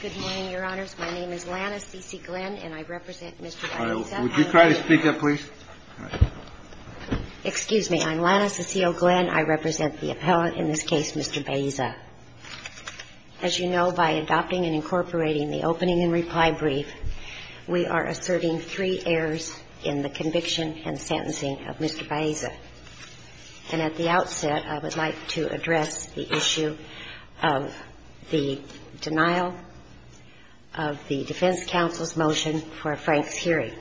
Good morning, Your Honors. My name is Lana Cecile Glenn, and I represent Mr. Baeza. Would you try to speak up, please? Excuse me. I'm Lana Cecile Glenn. I represent the appellant in this case, Mr. Baeza. As you know, by adopting and incorporating the opening and reply brief, we are asserting three errors in the conviction and sentencing of Mr. Baeza. And at the outset, I would like to address the issue of the denial of the defense counsel's motion for Frank's hearing.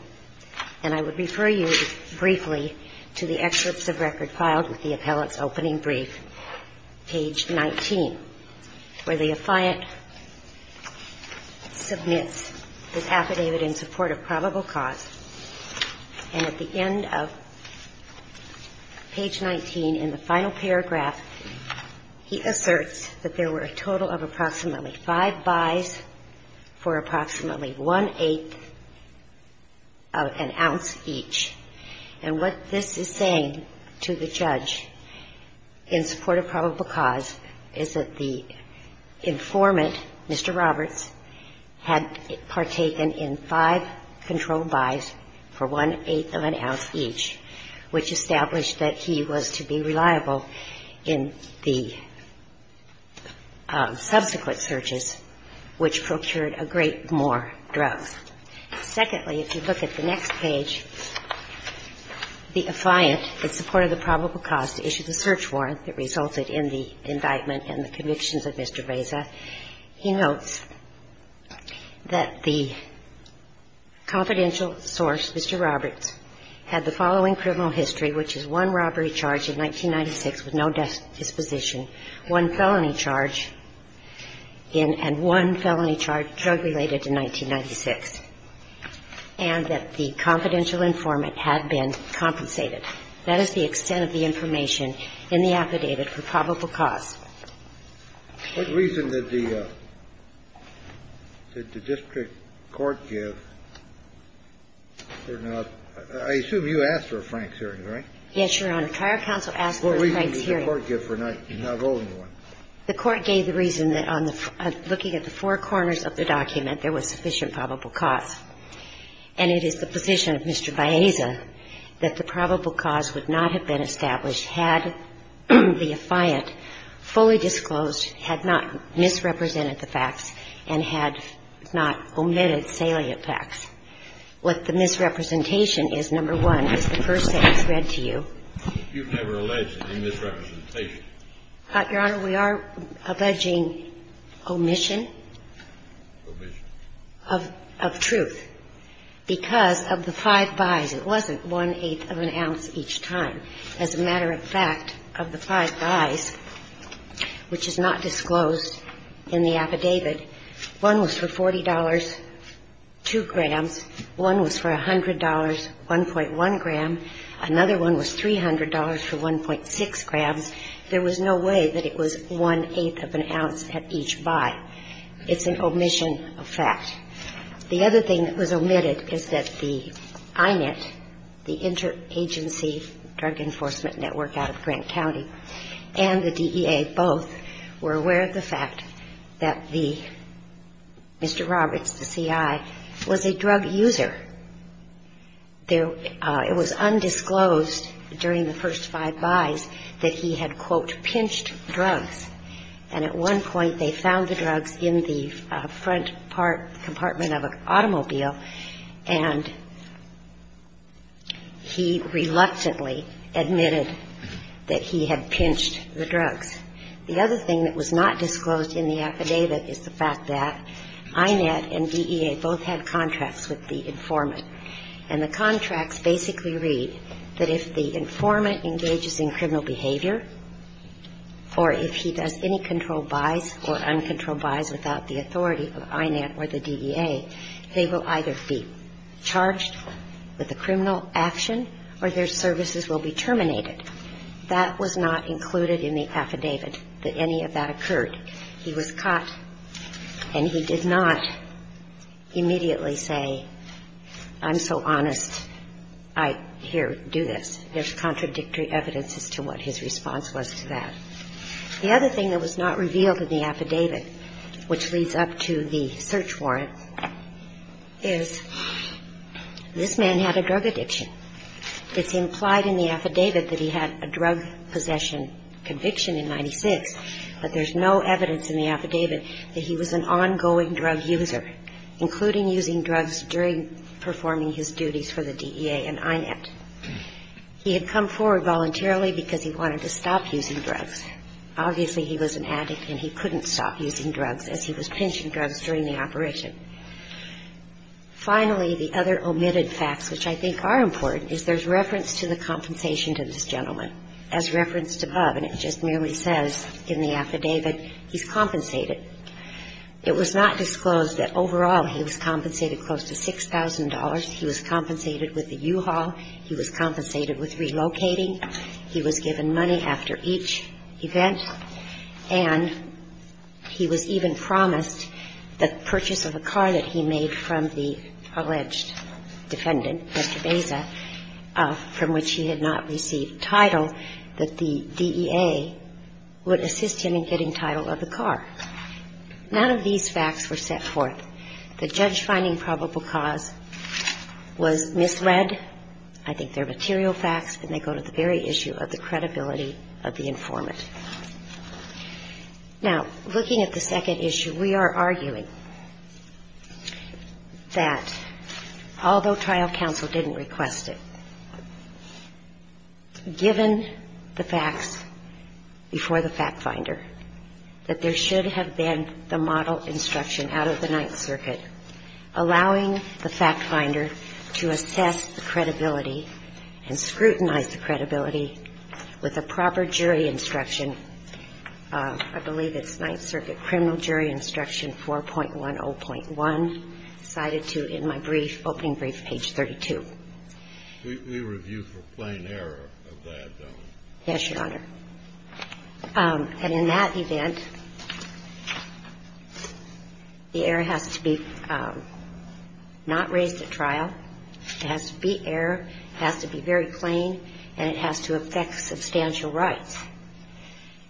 And I would refer you briefly to the excerpts of record filed with the appellant's opening brief, page 19, where the affiant submits his affidavit in support of probable cause. And at the end of page 19 in the final paragraph, he asserts that there were a total of approximately five buys for approximately one-eighth of an ounce each. And what this is saying to the judge in support of probable cause is that the informant, Mr. Roberts, had partaken in five controlled buys for one-eighth of an ounce each, which established that he was to be reliable in the subsequent searches, which procured a great more drugs. Secondly, if you look at the next page, the affiant in support of the probable cause issued a search warrant that resulted in the indictment and the convictions of Mr. Baeza. He notes that the confidential source, Mr. Roberts, had the following criminal history, which is one robbery charge in 1996 with no disposition, one felony charge in — and one felony charge drug-related in 1996, and that the confidential informant had been compensated. That is the extent of the information in the affidavit for probable cause. What reason did the district court give for not — I assume you asked for a Frank's hearing, right? Yes, Your Honor. Trial counsel asked for a Frank's hearing. What reason did the court give for not holding one? The court gave the reason that on the — looking at the four corners of the document, there was sufficient probable cause. The reason that the district court gave was that the facts were fully disclosed, had not misrepresented the facts, and had not omitted salient facts. What the misrepresentation is, number one, is the first thing that's read to you. You've never alleged any misrepresentation. Your Honor, we are alleging omission. Omission. Of truth. Because of the five buys, it wasn't one-eighth of an ounce each time. As a matter of fact, of the five buys, which is not disclosed in the affidavit, one was for $40, 2 grams, one was for $100, 1.1 gram, another one was $300 for 1.6 grams. There was no way that it was one-eighth of an ounce at each buy. It's an omission of fact. The other thing that was omitted is that the INIT, the Interagency Drug Enforcement Network out of Grant County, and the DEA both, were aware of the fact that the — Mr. Roberts, the C.I., was a drug user. There — it was undisclosed during the first five buys that he had, quote, And at one point, they found the drugs in the front part — compartment of an automobile, and he reluctantly admitted that he had pinched the drugs. The other thing that was not disclosed in the affidavit is the fact that INIT and DEA both had contracts with the informant. And the contracts basically read that if the informant engages in criminal behavior, or if he does any controlled buys or uncontrolled buys without the authority of INIT or the DEA, they will either be charged with a criminal action or their services will be terminated. That was not included in the affidavit that any of that occurred. He was caught, and he did not immediately say, I'm so honest, I here do this. There's contradictory evidence as to what his response was to that. The other thing that was not revealed in the affidavit, which leads up to the search warrant, is this man had a drug addiction. It's implied in the affidavit that he had a drug possession conviction in 1996, but there's no evidence in the affidavit that he was an ongoing drug user, including using drugs during performing his duties for the DEA and INIT. He had come forward voluntarily because he wanted to stop using drugs. Obviously, he was an addict, and he couldn't stop using drugs as he was pinching drugs during the operation. Finally, the other omitted facts, which I think are important, is there's reference to the compensation to this gentleman, as referenced above, and it just merely says in the affidavit he's compensated. It was not disclosed that overall he was compensated close to $6,000. He was compensated with the U-Haul. He was compensated with relocating. He was given money after each event. And he was even promised the purchase of a car that he made from the alleged defendant, Mr. Baza, from which he had not received title, that the DEA would assist him in getting title of the car. None of these facts were set forth. The judge finding probable cause was misled. I think they're material facts, and they go to the very issue of the credibility of the informant. Now, looking at the second issue, we are arguing that although trial counsel didn't request it, given the facts before the fact finder, that there should have been the model instruction out of the Ninth Circuit allowing the fact finder to assess the credibility and scrutinize the credibility with a proper jury instruction, I believe it's Ninth Circuit criminal jury instruction 4.10.1, cited to in my brief, opening brief, page 32. We review for plain error of that, don't we? Yes, Your Honor. And in that event, the error has to be not raised at trial. It has to be error, it has to be very plain, and it has to affect substantial rights.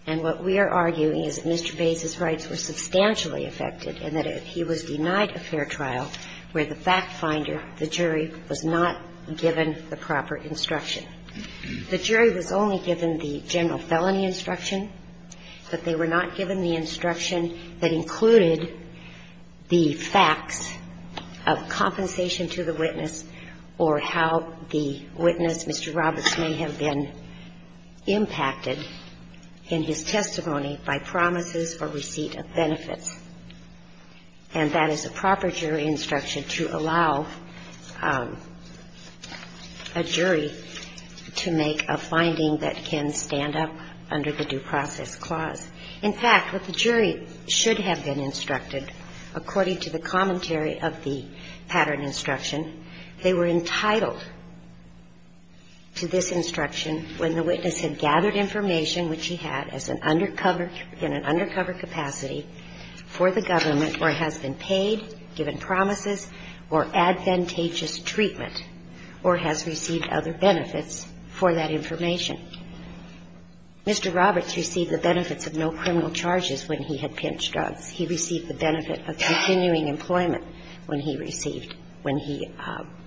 And what we are arguing is that Mr. Baza's rights were substantially affected and that he was denied a fair trial where the fact finder, the jury, was not given the proper instruction. The jury was only given the general felony instruction, but they were not given the instruction that included the facts of compensation to the witness or how the witness, Mr. Roberts, may have been impacted in his testimony by promises or receipt of benefits. And that is a proper jury instruction to allow a jury to make a finding that can stand up under the due process clause. In fact, what the jury should have been instructed, according to the commentary of the pattern instruction, they were entitled to this instruction when the witness had gathered information which he had as an undercover, in an undercover capacity for the government or has been paid, given promises, or advantageous treatment or has received other benefits for that information. Mr. Roberts received the benefits of no criminal charges when he had pinched drugs. He received the benefit of continuing employment when he received, when he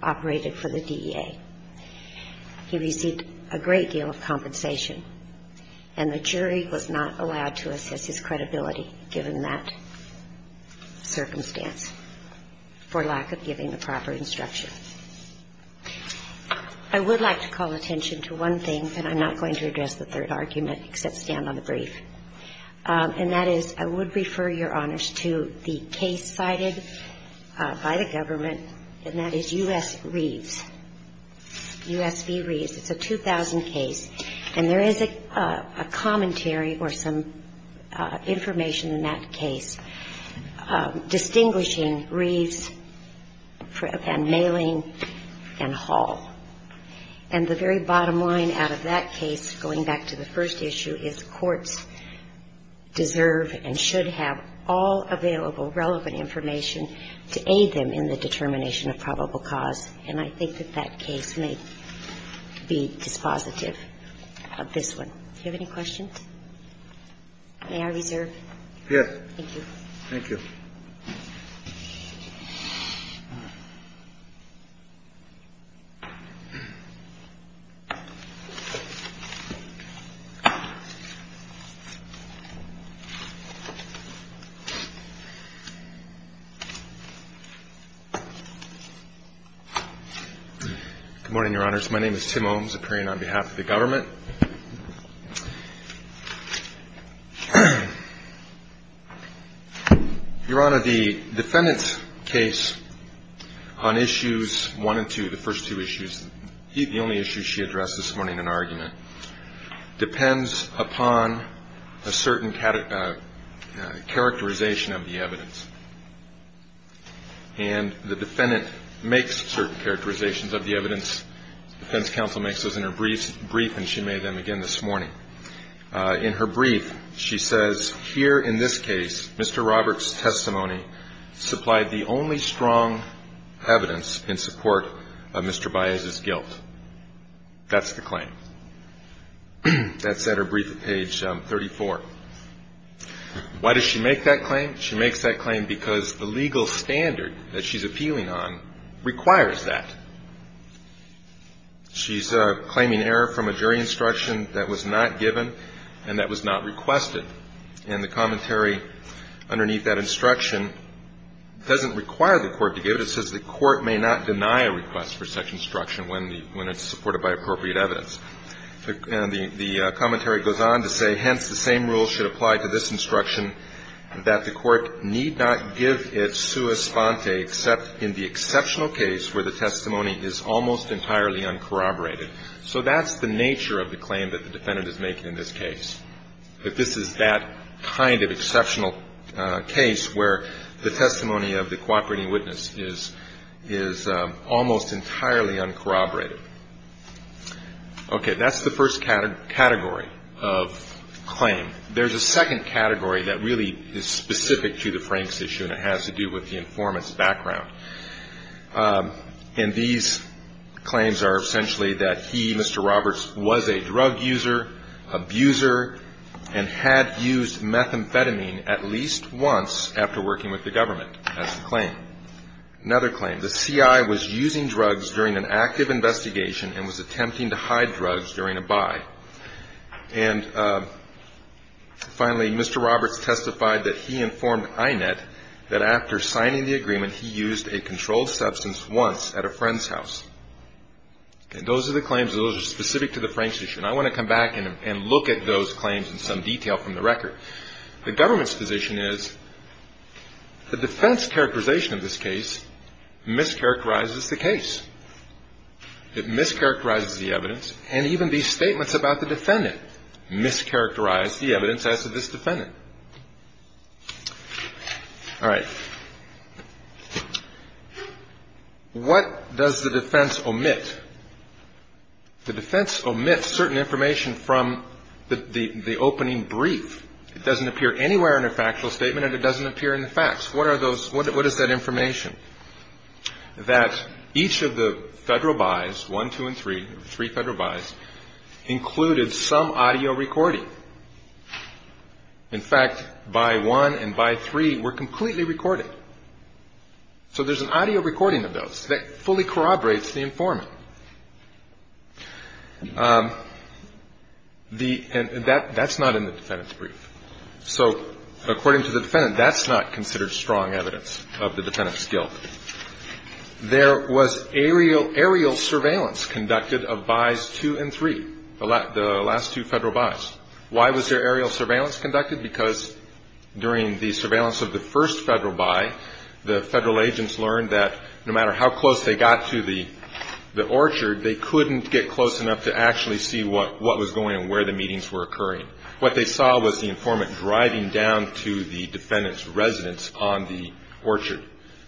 operated for the DEA. He received a great deal of compensation. And the jury was not allowed to assess his credibility given that circumstance for lack of giving the proper instruction. I would like to call attention to one thing, and I'm not going to address the third argument except stand on the brief, and that is I would refer Your Honors to the case cited by the government, and that is U.S. Reeves, U.S. v. Reeves. It's a 2000 case, and there is a commentary or some information in that case distinguishing U.S. Reeves from U.S. Reeves. And I would like to call attention to the third argument, and that is U.S. Reeves and Maling and Hall. And the very bottom line out of that case, going back to the first issue, is courts deserve and should have all available relevant information to aid them in the determination of probable cause. And I think that that case may be dispositive of this one. Do you have any questions? May I reserve? Yes. Thank you. Thank you. Good morning, Your Honors. My name is Tim Ohms, appearing on behalf of the government. Your Honor, the defendant's case on issues one and two, the first two issues, the only issues she addressed this morning in an argument, depends upon a certain characterization of the evidence. And the defendant makes certain characterizations of the evidence. The defense counsel makes those in her brief, and she made them again this morning. In her brief, she says, here in this case, Mr. Roberts' testimony supplied the only strong evidence in support of Mr. Baez's guilt. That's the claim. That's at her brief at page 34. Why does she make that claim? She makes that claim because the legal standard that she's appealing on requires that. She's claiming error from a jury instruction that was not given and that was not requested. And the commentary underneath that instruction doesn't require the court to give it. It says the court may not deny a request for such instruction when it's supported by appropriate evidence. And the commentary goes on to say, hence, the same rule should apply to this instruction, that the court need not give it sua sponte except in the exceptional case where the testimony is almost entirely uncorroborated. So that's the nature of the claim that the defendant is making in this case, that this is that kind of exceptional case where the testimony of the cooperating witness is almost entirely uncorroborated. Okay. That's the first category of claim. There's a second category that really is specific to the Franks issue and it has to do with the informant's background. And these claims are essentially that he, Mr. Roberts, was a drug user, abuser, and had used methamphetamine Another claim, the CI was using drugs during an active investigation and was attempting to hide drugs during a buy. And finally, Mr. Roberts testified that he informed INET that after signing the agreement, he used a controlled substance once at a friend's house. And those are the claims. Those are specific to the Franks issue. And I want to come back and look at those claims in some detail from the record. The government's position is the defense characterization of this case mischaracterizes the case. It mischaracterizes the evidence. And even these statements about the defendant mischaracterize the evidence as to this defendant. All right. What does the defense omit? The defense omits certain information from the opening brief. It doesn't appear anywhere in a factual statement and it doesn't appear in the facts. What are those, what is that information? That each of the Federal buys, one, two, and three, three Federal buys, included some audio recording. In fact, buy one and buy three were completely recorded. So there's an audio recording of those that fully corroborates the informant. The, and that's not in the defendant's brief. So according to the defendant, that's not considered strong evidence of the defendant's guilt. There was aerial surveillance conducted of buys two and three, the last two Federal buys. Why was there aerial surveillance conducted? Because during the surveillance of the first Federal buy, the Federal agents learned that no matter how close they got to the orchard, they couldn't get close enough to actually see what was going on, where the meetings were occurring. What they saw was the informant driving down to the defendant's residence on the orchard.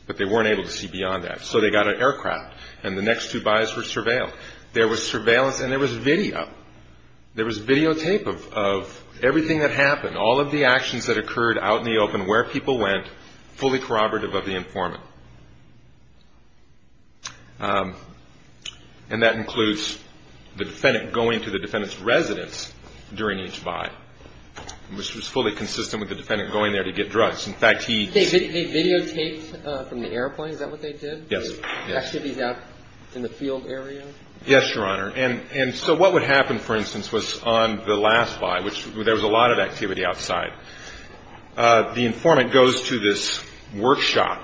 But they weren't able to see beyond that. So they got an aircraft and the next two buys were surveilled. There was surveillance and there was video. There was videotape of everything that happened, all of the actions that occurred out in the open, where people went, fully corroborative of the informant. And that includes the defendant going to the defendant's residence during each buy, which was fully consistent with the defendant going there to get drugs. In fact, he… They videotaped from the airplane. Is that what they did? Yes. They videotaped activities out in the field area? Yes, Your Honor. And so what would happen, for instance, was on the last buy, which there was a lot of activity outside, the informant goes to this workshop.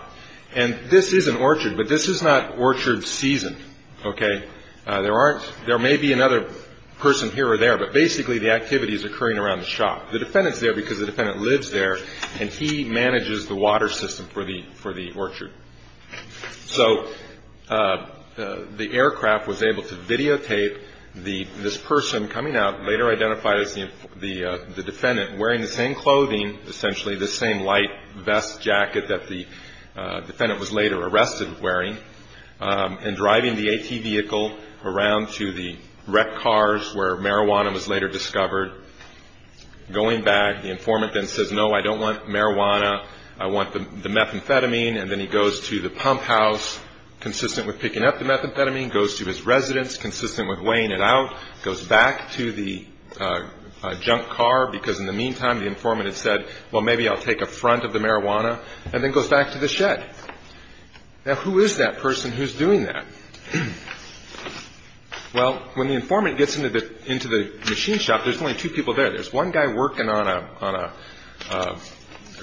And this is an orchard, but this is not orchard season. Okay? There may be another person here or there, but basically the activity is occurring around the shop. The defendant is there because the defendant lives there and he manages the water system for the orchard. So the aircraft was able to videotape this person coming out, later identified as the defendant, wearing the same clothing, essentially the same light vest jacket that the defendant was later arrested wearing, and driving the AT vehicle around to the wrecked cars where marijuana was later discovered. Going back, the informant then says, no, I don't want marijuana, I want the methamphetamine. And then he goes to the pump house, consistent with picking up the methamphetamine, goes to his residence, consistent with weighing it out, goes back to the junk car, because in the meantime the informant had said, well, maybe I'll take a front of the marijuana, and then goes back to the shed. Now, who is that person who's doing that? Well, when the informant gets into the machine shop, there's only two people there. There's one guy working on a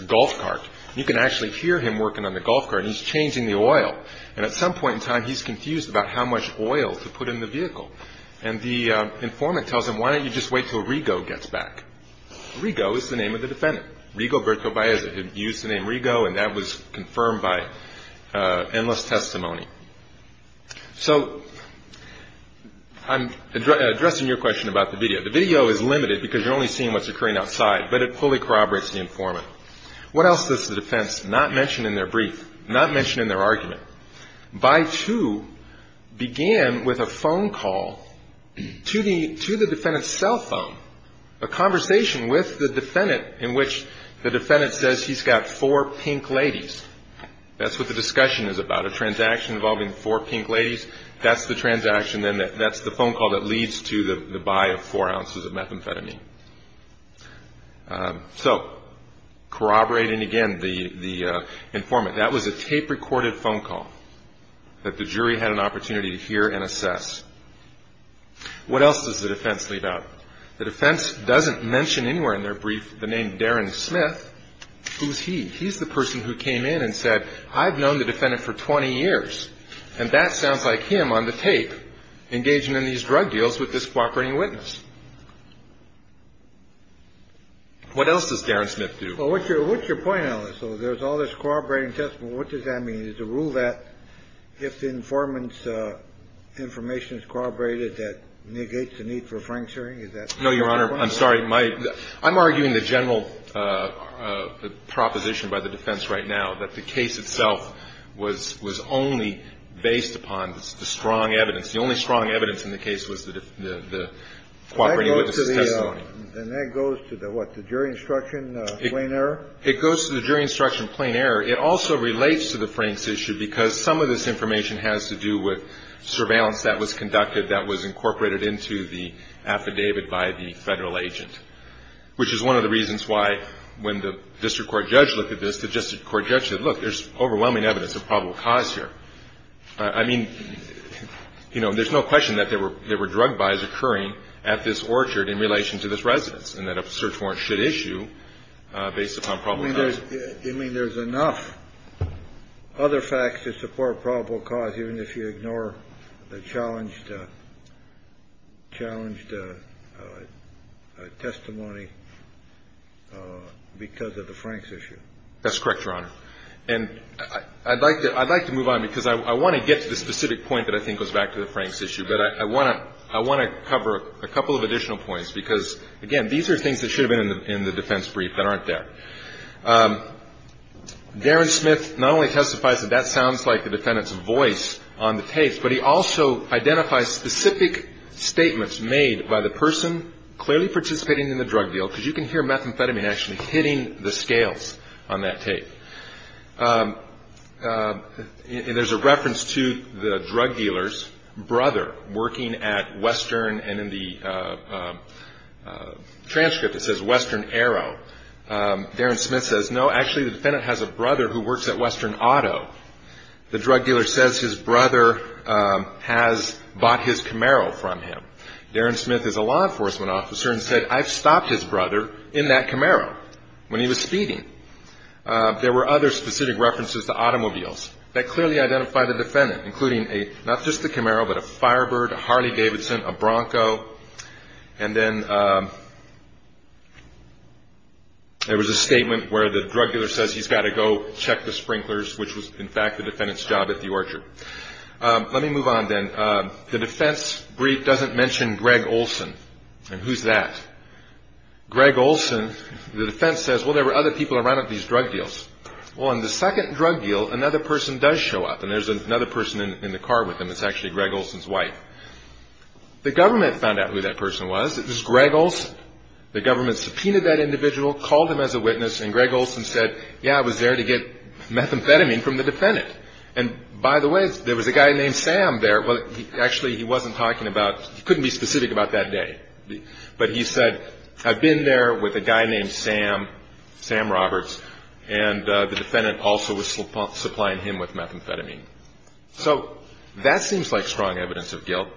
golf cart. You can actually hear him working on the golf cart, and he's changing the oil. And at some point in time, he's confused about how much oil to put in the vehicle. And the informant tells him, why don't you just wait until Rigo gets back? Rigo is the name of the defendant. Rigo Bertovaeza had used the name Rigo, and that was confirmed by endless testimony. So I'm addressing your question about the video. The video is limited because you're only seeing what's occurring outside, but it fully corroborates the informant. What else does the defense not mention in their brief, not mention in their argument? By two began with a phone call to the defendant's cell phone, a conversation with the defendant in which the defendant says he's got four pink ladies. That's what the discussion is about, a transaction involving four pink ladies. That's the transaction. Then that's the phone call that leads to the buy of four ounces of methamphetamine. So corroborating again the informant, that was a tape-recorded phone call that the jury had an opportunity to hear and assess. What else does the defense leave out? The defense doesn't mention anywhere in their brief the name Darren Smith. Who's he? He's the person who came in and said, I've known the defendant for 20 years, and that sounds like him on the tape engaging in these drug deals with this cooperating witness. What else does Darren Smith do? Well, what's your point on this? So there's all this corroborating testimony. What does that mean? Is the rule that if the informant's information is corroborated, that negates the need for frank suing? Is that your point? No, Your Honor, I'm sorry. I'm arguing the general proposition by the defense right now, that the case itself was only based upon the strong evidence. The only strong evidence in the case was the cooperating witness' testimony. And that goes to the, what, the jury instruction plain error? It goes to the jury instruction plain error. It also relates to the Franks issue because some of this information has to do with surveillance that was conducted, that was incorporated into the affidavit by the Federal agent, which is one of the reasons why when the district court judge looked at this, the district court judge said, look, there's overwhelming evidence of probable cause here. I mean, you know, there's no question that there were drug buys occurring at this orchard in relation to this residence and that a search warrant should issue based upon probable cause. You mean there's enough other facts to support probable cause even if you ignore the challenged testimony because of the Franks issue? That's correct, Your Honor. And I'd like to move on because I want to get to the specific point that I think goes back to the Franks issue. But I want to cover a couple of additional points because, again, these are things that should have been in the defense brief that aren't there. Darren Smith not only testifies that that sounds like the defendant's voice on the tape, but he also identifies specific statements made by the person clearly participating in the drug deal, because you can hear methamphetamine actually hitting the scales on that tape. There's a reference to the drug dealer's brother working at Western and in the transcript it says Western Aero. Darren Smith says, no, actually the defendant has a brother who works at Western Auto. The drug dealer says his brother has bought his Camaro from him. Darren Smith is a law enforcement officer and said, I've stopped his brother in that Camaro when he was speeding. There were other specific references to automobiles that clearly identify the defendant, including not just the Camaro, but a Firebird, a Harley Davidson, a Bronco. And then there was a statement where the drug dealer says he's got to go check the sprinklers, which was, in fact, the defendant's job at the orchard. Let me move on then. The defense brief doesn't mention Greg Olson. And who's that? Greg Olson, the defense says, well, there were other people around at these drug deals. Well, in the second drug deal, another person does show up, and there's another person in the car with him. It's actually Greg Olson's wife. The government found out who that person was. It was Greg Olson. The government subpoenaed that individual, called him as a witness, and Greg Olson said, yeah, I was there to get methamphetamine from the defendant. And, by the way, there was a guy named Sam there. Well, actually, he wasn't talking about he couldn't be specific about that day. But he said, I've been there with a guy named Sam, Sam Roberts, and the defendant also was supplying him with methamphetamine. So that seems like strong evidence of guilt.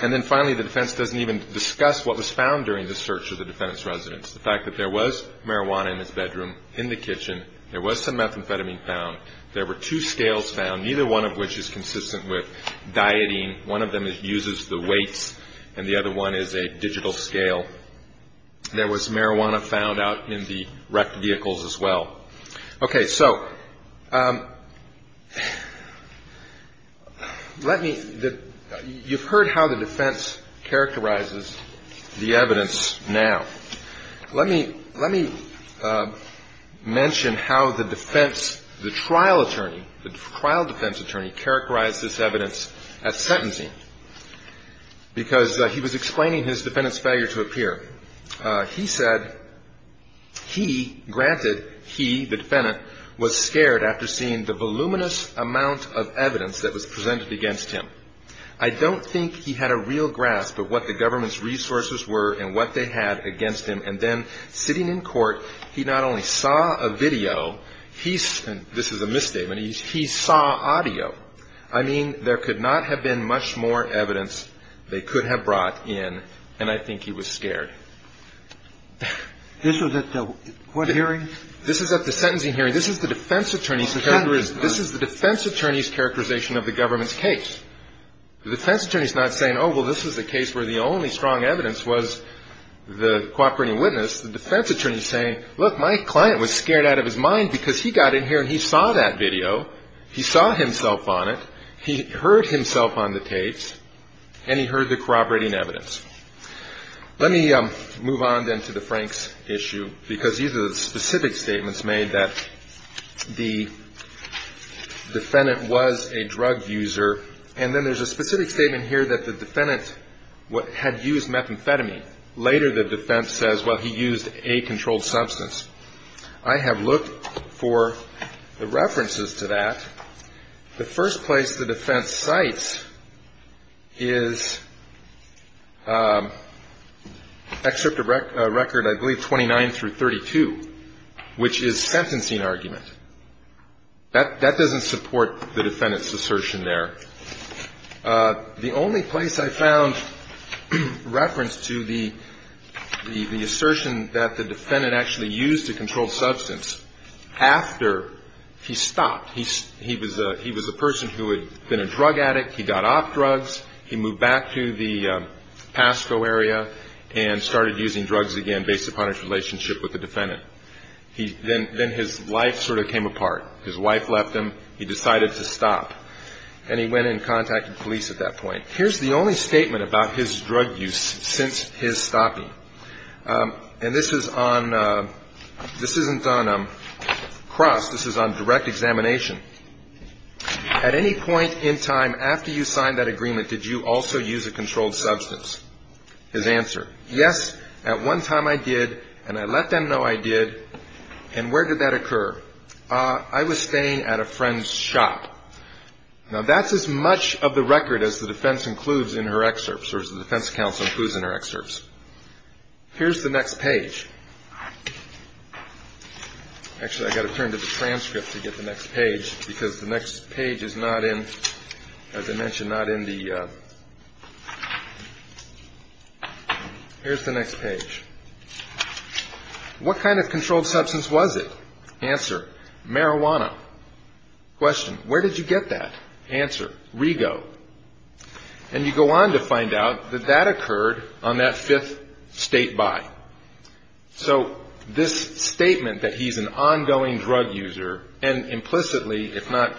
And then, finally, the defense doesn't even discuss what was found during the search of the defendant's residence, the fact that there was marijuana in his bedroom, in the kitchen. There was some methamphetamine found. There were two scales found, neither one of which is consistent with dieting. One of them uses the weights, and the other one is a digital scale. There was marijuana found out in the wrecked vehicles as well. Okay, so let me – you've heard how the defense characterizes the evidence now. Let me mention how the defense, the trial attorney, the trial defense attorney, characterized this evidence as sentencing, because he was explaining his defendant's failure to appear. He said he, granted, he, the defendant, was scared after seeing the voluminous amount of evidence that was presented against him. I don't think he had a real grasp of what the government's resources were and what they had against him. And then, sitting in court, he not only saw a video, he – and this is a misstatement – he saw audio. I mean, there could not have been much more evidence they could have brought in, and I think he was scared. This was at the what hearing? This is at the sentencing hearing. This is the defense attorney's characterization of the government's case. The defense attorney's not saying, oh, well, this is a case where the only strong evidence was the cooperating witness. The defense attorney's saying, look, my client was scared out of his mind because he got in here and he saw that video. He saw himself on it. He heard himself on the tapes, and he heard the cooperating evidence. Let me move on, then, to the Franks issue because these are the specific statements made that the defendant was a drug user, and then there's a specific statement here that the defendant had used methamphetamine. Later, the defense says, well, he used a controlled substance. I have looked for the references to that. The first place the defense cites is Excerpt of Record, I believe, 29 through 32, which is sentencing argument. That doesn't support the defendant's assertion there. The only place I found reference to the assertion that the defendant actually used a controlled substance after he stopped, he was a person who had been a drug addict. He got off drugs. He moved back to the Pasco area and started using drugs again based upon his relationship with the defendant. Then his life sort of came apart. His wife left him. He decided to stop, and he went and contacted police at that point. Here's the only statement about his drug use since his stopping. And this is on – this isn't on cross. This is on direct examination. At any point in time after you signed that agreement, did you also use a controlled substance? His answer, yes, at one time I did, and I let them know I did. And where did that occur? I was staying at a friend's shop. Now, that's as much of the record as the defense includes in her excerpts, or as the defense counsel includes in her excerpts. Here's the next page. Actually, I've got to turn to the transcript to get the next page because the next page is not in – as I mentioned, not in the – here's the next page. What kind of controlled substance was it? Answer, marijuana. Question, where did you get that? Answer, Rego. And you go on to find out that that occurred on that fifth state buy. So this statement that he's an ongoing drug user and implicitly, if not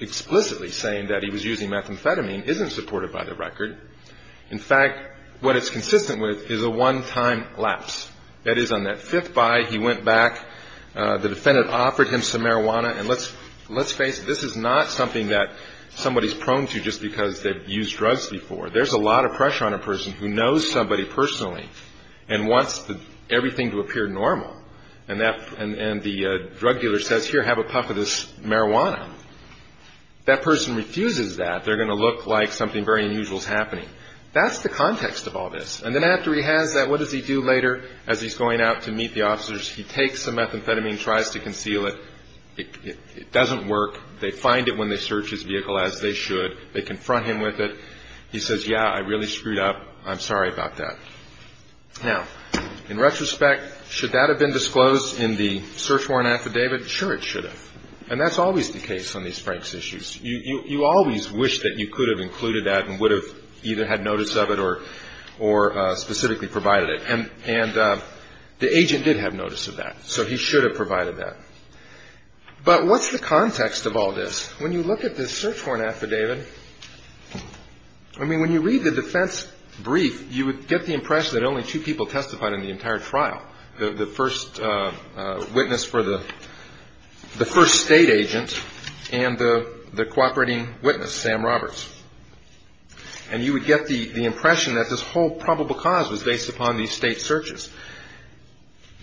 explicitly, saying that he was using methamphetamine isn't supported by the record. In fact, what it's consistent with is a one-time lapse. That is, on that fifth buy, he went back, the defendant offered him some marijuana, and let's face it, this is not something that somebody's prone to just because they've used drugs before. There's a lot of pressure on a person who knows somebody personally and wants everything to appear normal. And that – and the drug dealer says, here, have a puff of this marijuana. If that person refuses that, they're going to look like something very unusual is happening. That's the context of all this. And then after he has that, what does he do later as he's going out to meet the officers? He takes the methamphetamine, tries to conceal it. It doesn't work. They find it when they search his vehicle, as they should. They confront him with it. He says, yeah, I really screwed up. I'm sorry about that. Now, in retrospect, should that have been disclosed in the search warrant affidavit? Sure, it should have. And that's always the case on these Franks issues. You always wish that you could have included that and would have either had notice of it or specifically provided it. And the agent did have notice of that, so he should have provided that. But what's the context of all this? When you look at this search warrant affidavit, I mean, when you read the defense brief, you would get the impression that only two people testified in the entire trial, the first witness for the first State agent and the cooperating witness, Sam Roberts. And you would get the impression that this whole probable cause was based upon these State searches.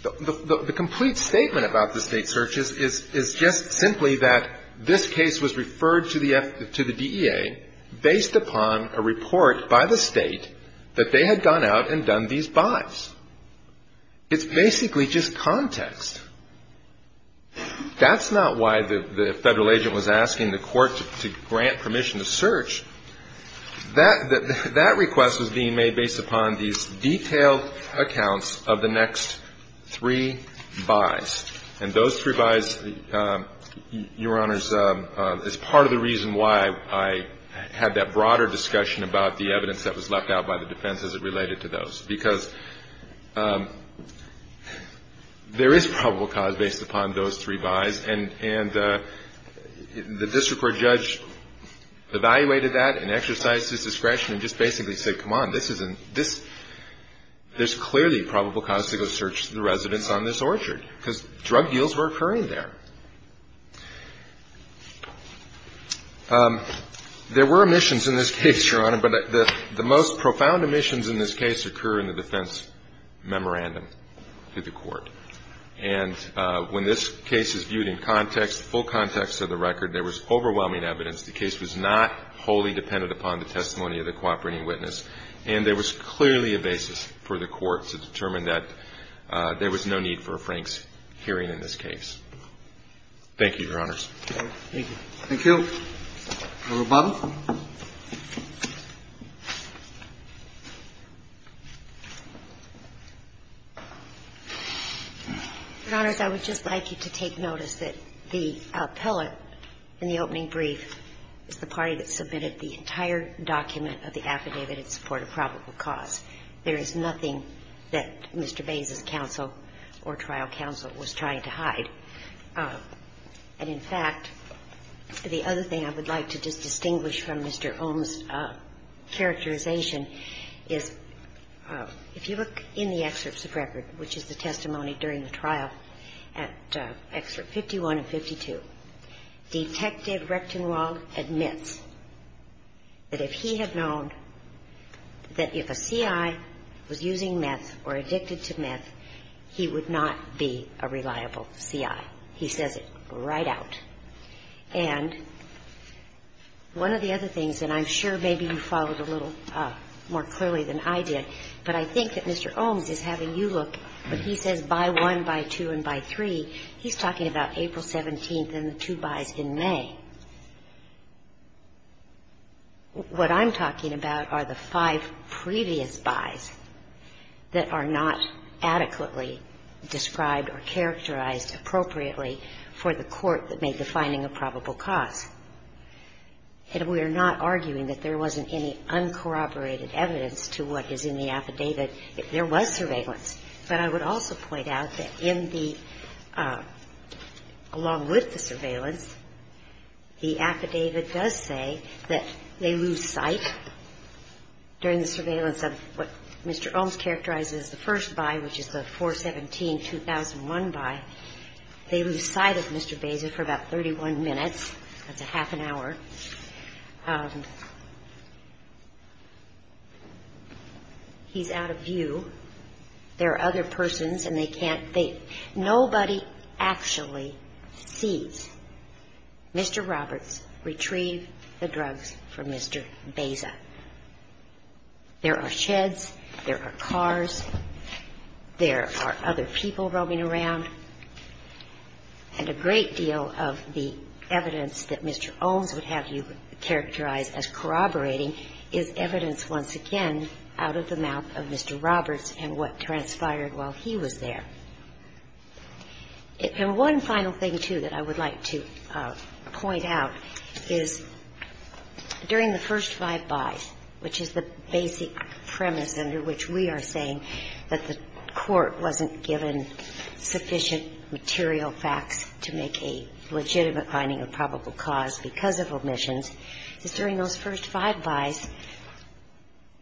The complete statement about the State searches is just simply that this case was referred to the DEA based upon a report by the State that they had gone out and done these buys. It's basically just context. That's not why the Federal agent was asking the Court to grant permission to search. That request was being made based upon these detailed accounts of the next three buys. And those three buys, Your Honors, is part of the reason why I had that broader discussion about the evidence that was left out by the defense as it related to those. Because there is probable cause based upon those three buys, and the district court judge evaluated that and exercised his discretion and just basically said, come on, this isn't – this – there's clearly probable cause to go search the residents on this orchard because drug deals were occurring there. There were omissions in this case, Your Honor, but the most profound omissions in this case occurred in the defense memorandum to the Court. And when this case is viewed in context, full context of the record, there was overwhelming evidence the case was not wholly dependent upon the testimony of the cooperating witness, and there was clearly a basis for the Court to determine that there was no need for a Frank's hearing in this case. Thank you, Your Honors. Thank you. Thank you. Thank you. Ms. Bubba. Your Honors, I would just like you to take notice that the appellate in the opening brief is the party that submitted the entire document of the affidavit in support of probable cause. There is nothing that Mr. Bays's counsel or trial counsel was trying to hide. And, in fact, the other thing I would like to just distinguish from Mr. Ohm's characterization is, if you look in the excerpts of record, which is the testimony during the trial at excerpt 51 and 52, Detective Recktenwald admits that if he had known that if a C.I. was using he says it right out. And one of the other things, and I'm sure maybe you followed a little more clearly than I did, but I think that Mr. Ohm's is having you look, when he says by 1, by 2, and by 3, he's talking about April 17th and the two bys in May. What I'm talking about are the five previous bys that are not adequately described or characterized appropriately for the court that made the finding of probable cause. And we are not arguing that there wasn't any uncorroborated evidence to what is in the affidavit if there was surveillance. But I would also point out that in the, along with the surveillance, the affidavit does say that they lose sight during the surveillance of what Mr. Ohm's characterizes as the first by, which is the 4-17-2001 by. They lose sight of Mr. Beza for about 31 minutes. That's a half an hour. He's out of view. There are other persons, and they can't think. Nobody actually sees. Mr. Roberts retrieved the drugs from Mr. Beza. There are sheds. There are cars. There are other people roaming around. And a great deal of the evidence that Mr. Ohm's would have you characterize as corroborating is evidence, once again, out of the mouth of Mr. Roberts and what transpired while he was there. And one final thing, too, that I would like to point out is during the first five bys, which is the basic premise under which we are saying that the Court wasn't given sufficient material facts to make a legitimate finding of probable cause because of omissions, is during those first five bys,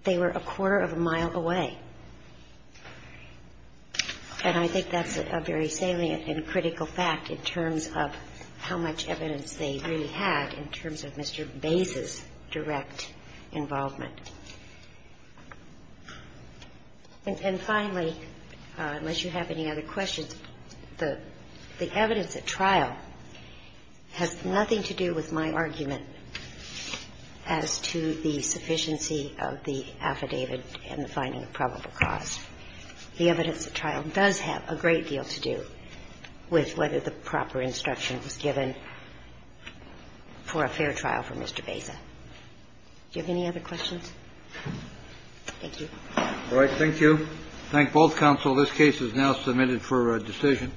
they were a quarter of a mile away. And I think that's a very salient and critical fact in terms of how much evidence they really had in terms of Mr. Beza's direct involvement. And finally, unless you have any other questions, the evidence at trial has nothing to do with my argument as to the sufficiency of the affidavit in the finding of probable cause. The evidence at trial does have a great deal to do with whether the proper instruction was given for a fair trial for Mr. Beza. Do you have any other questions? Thank you. All right. Thank you. Thank both counsel. This case is now submitted for decision.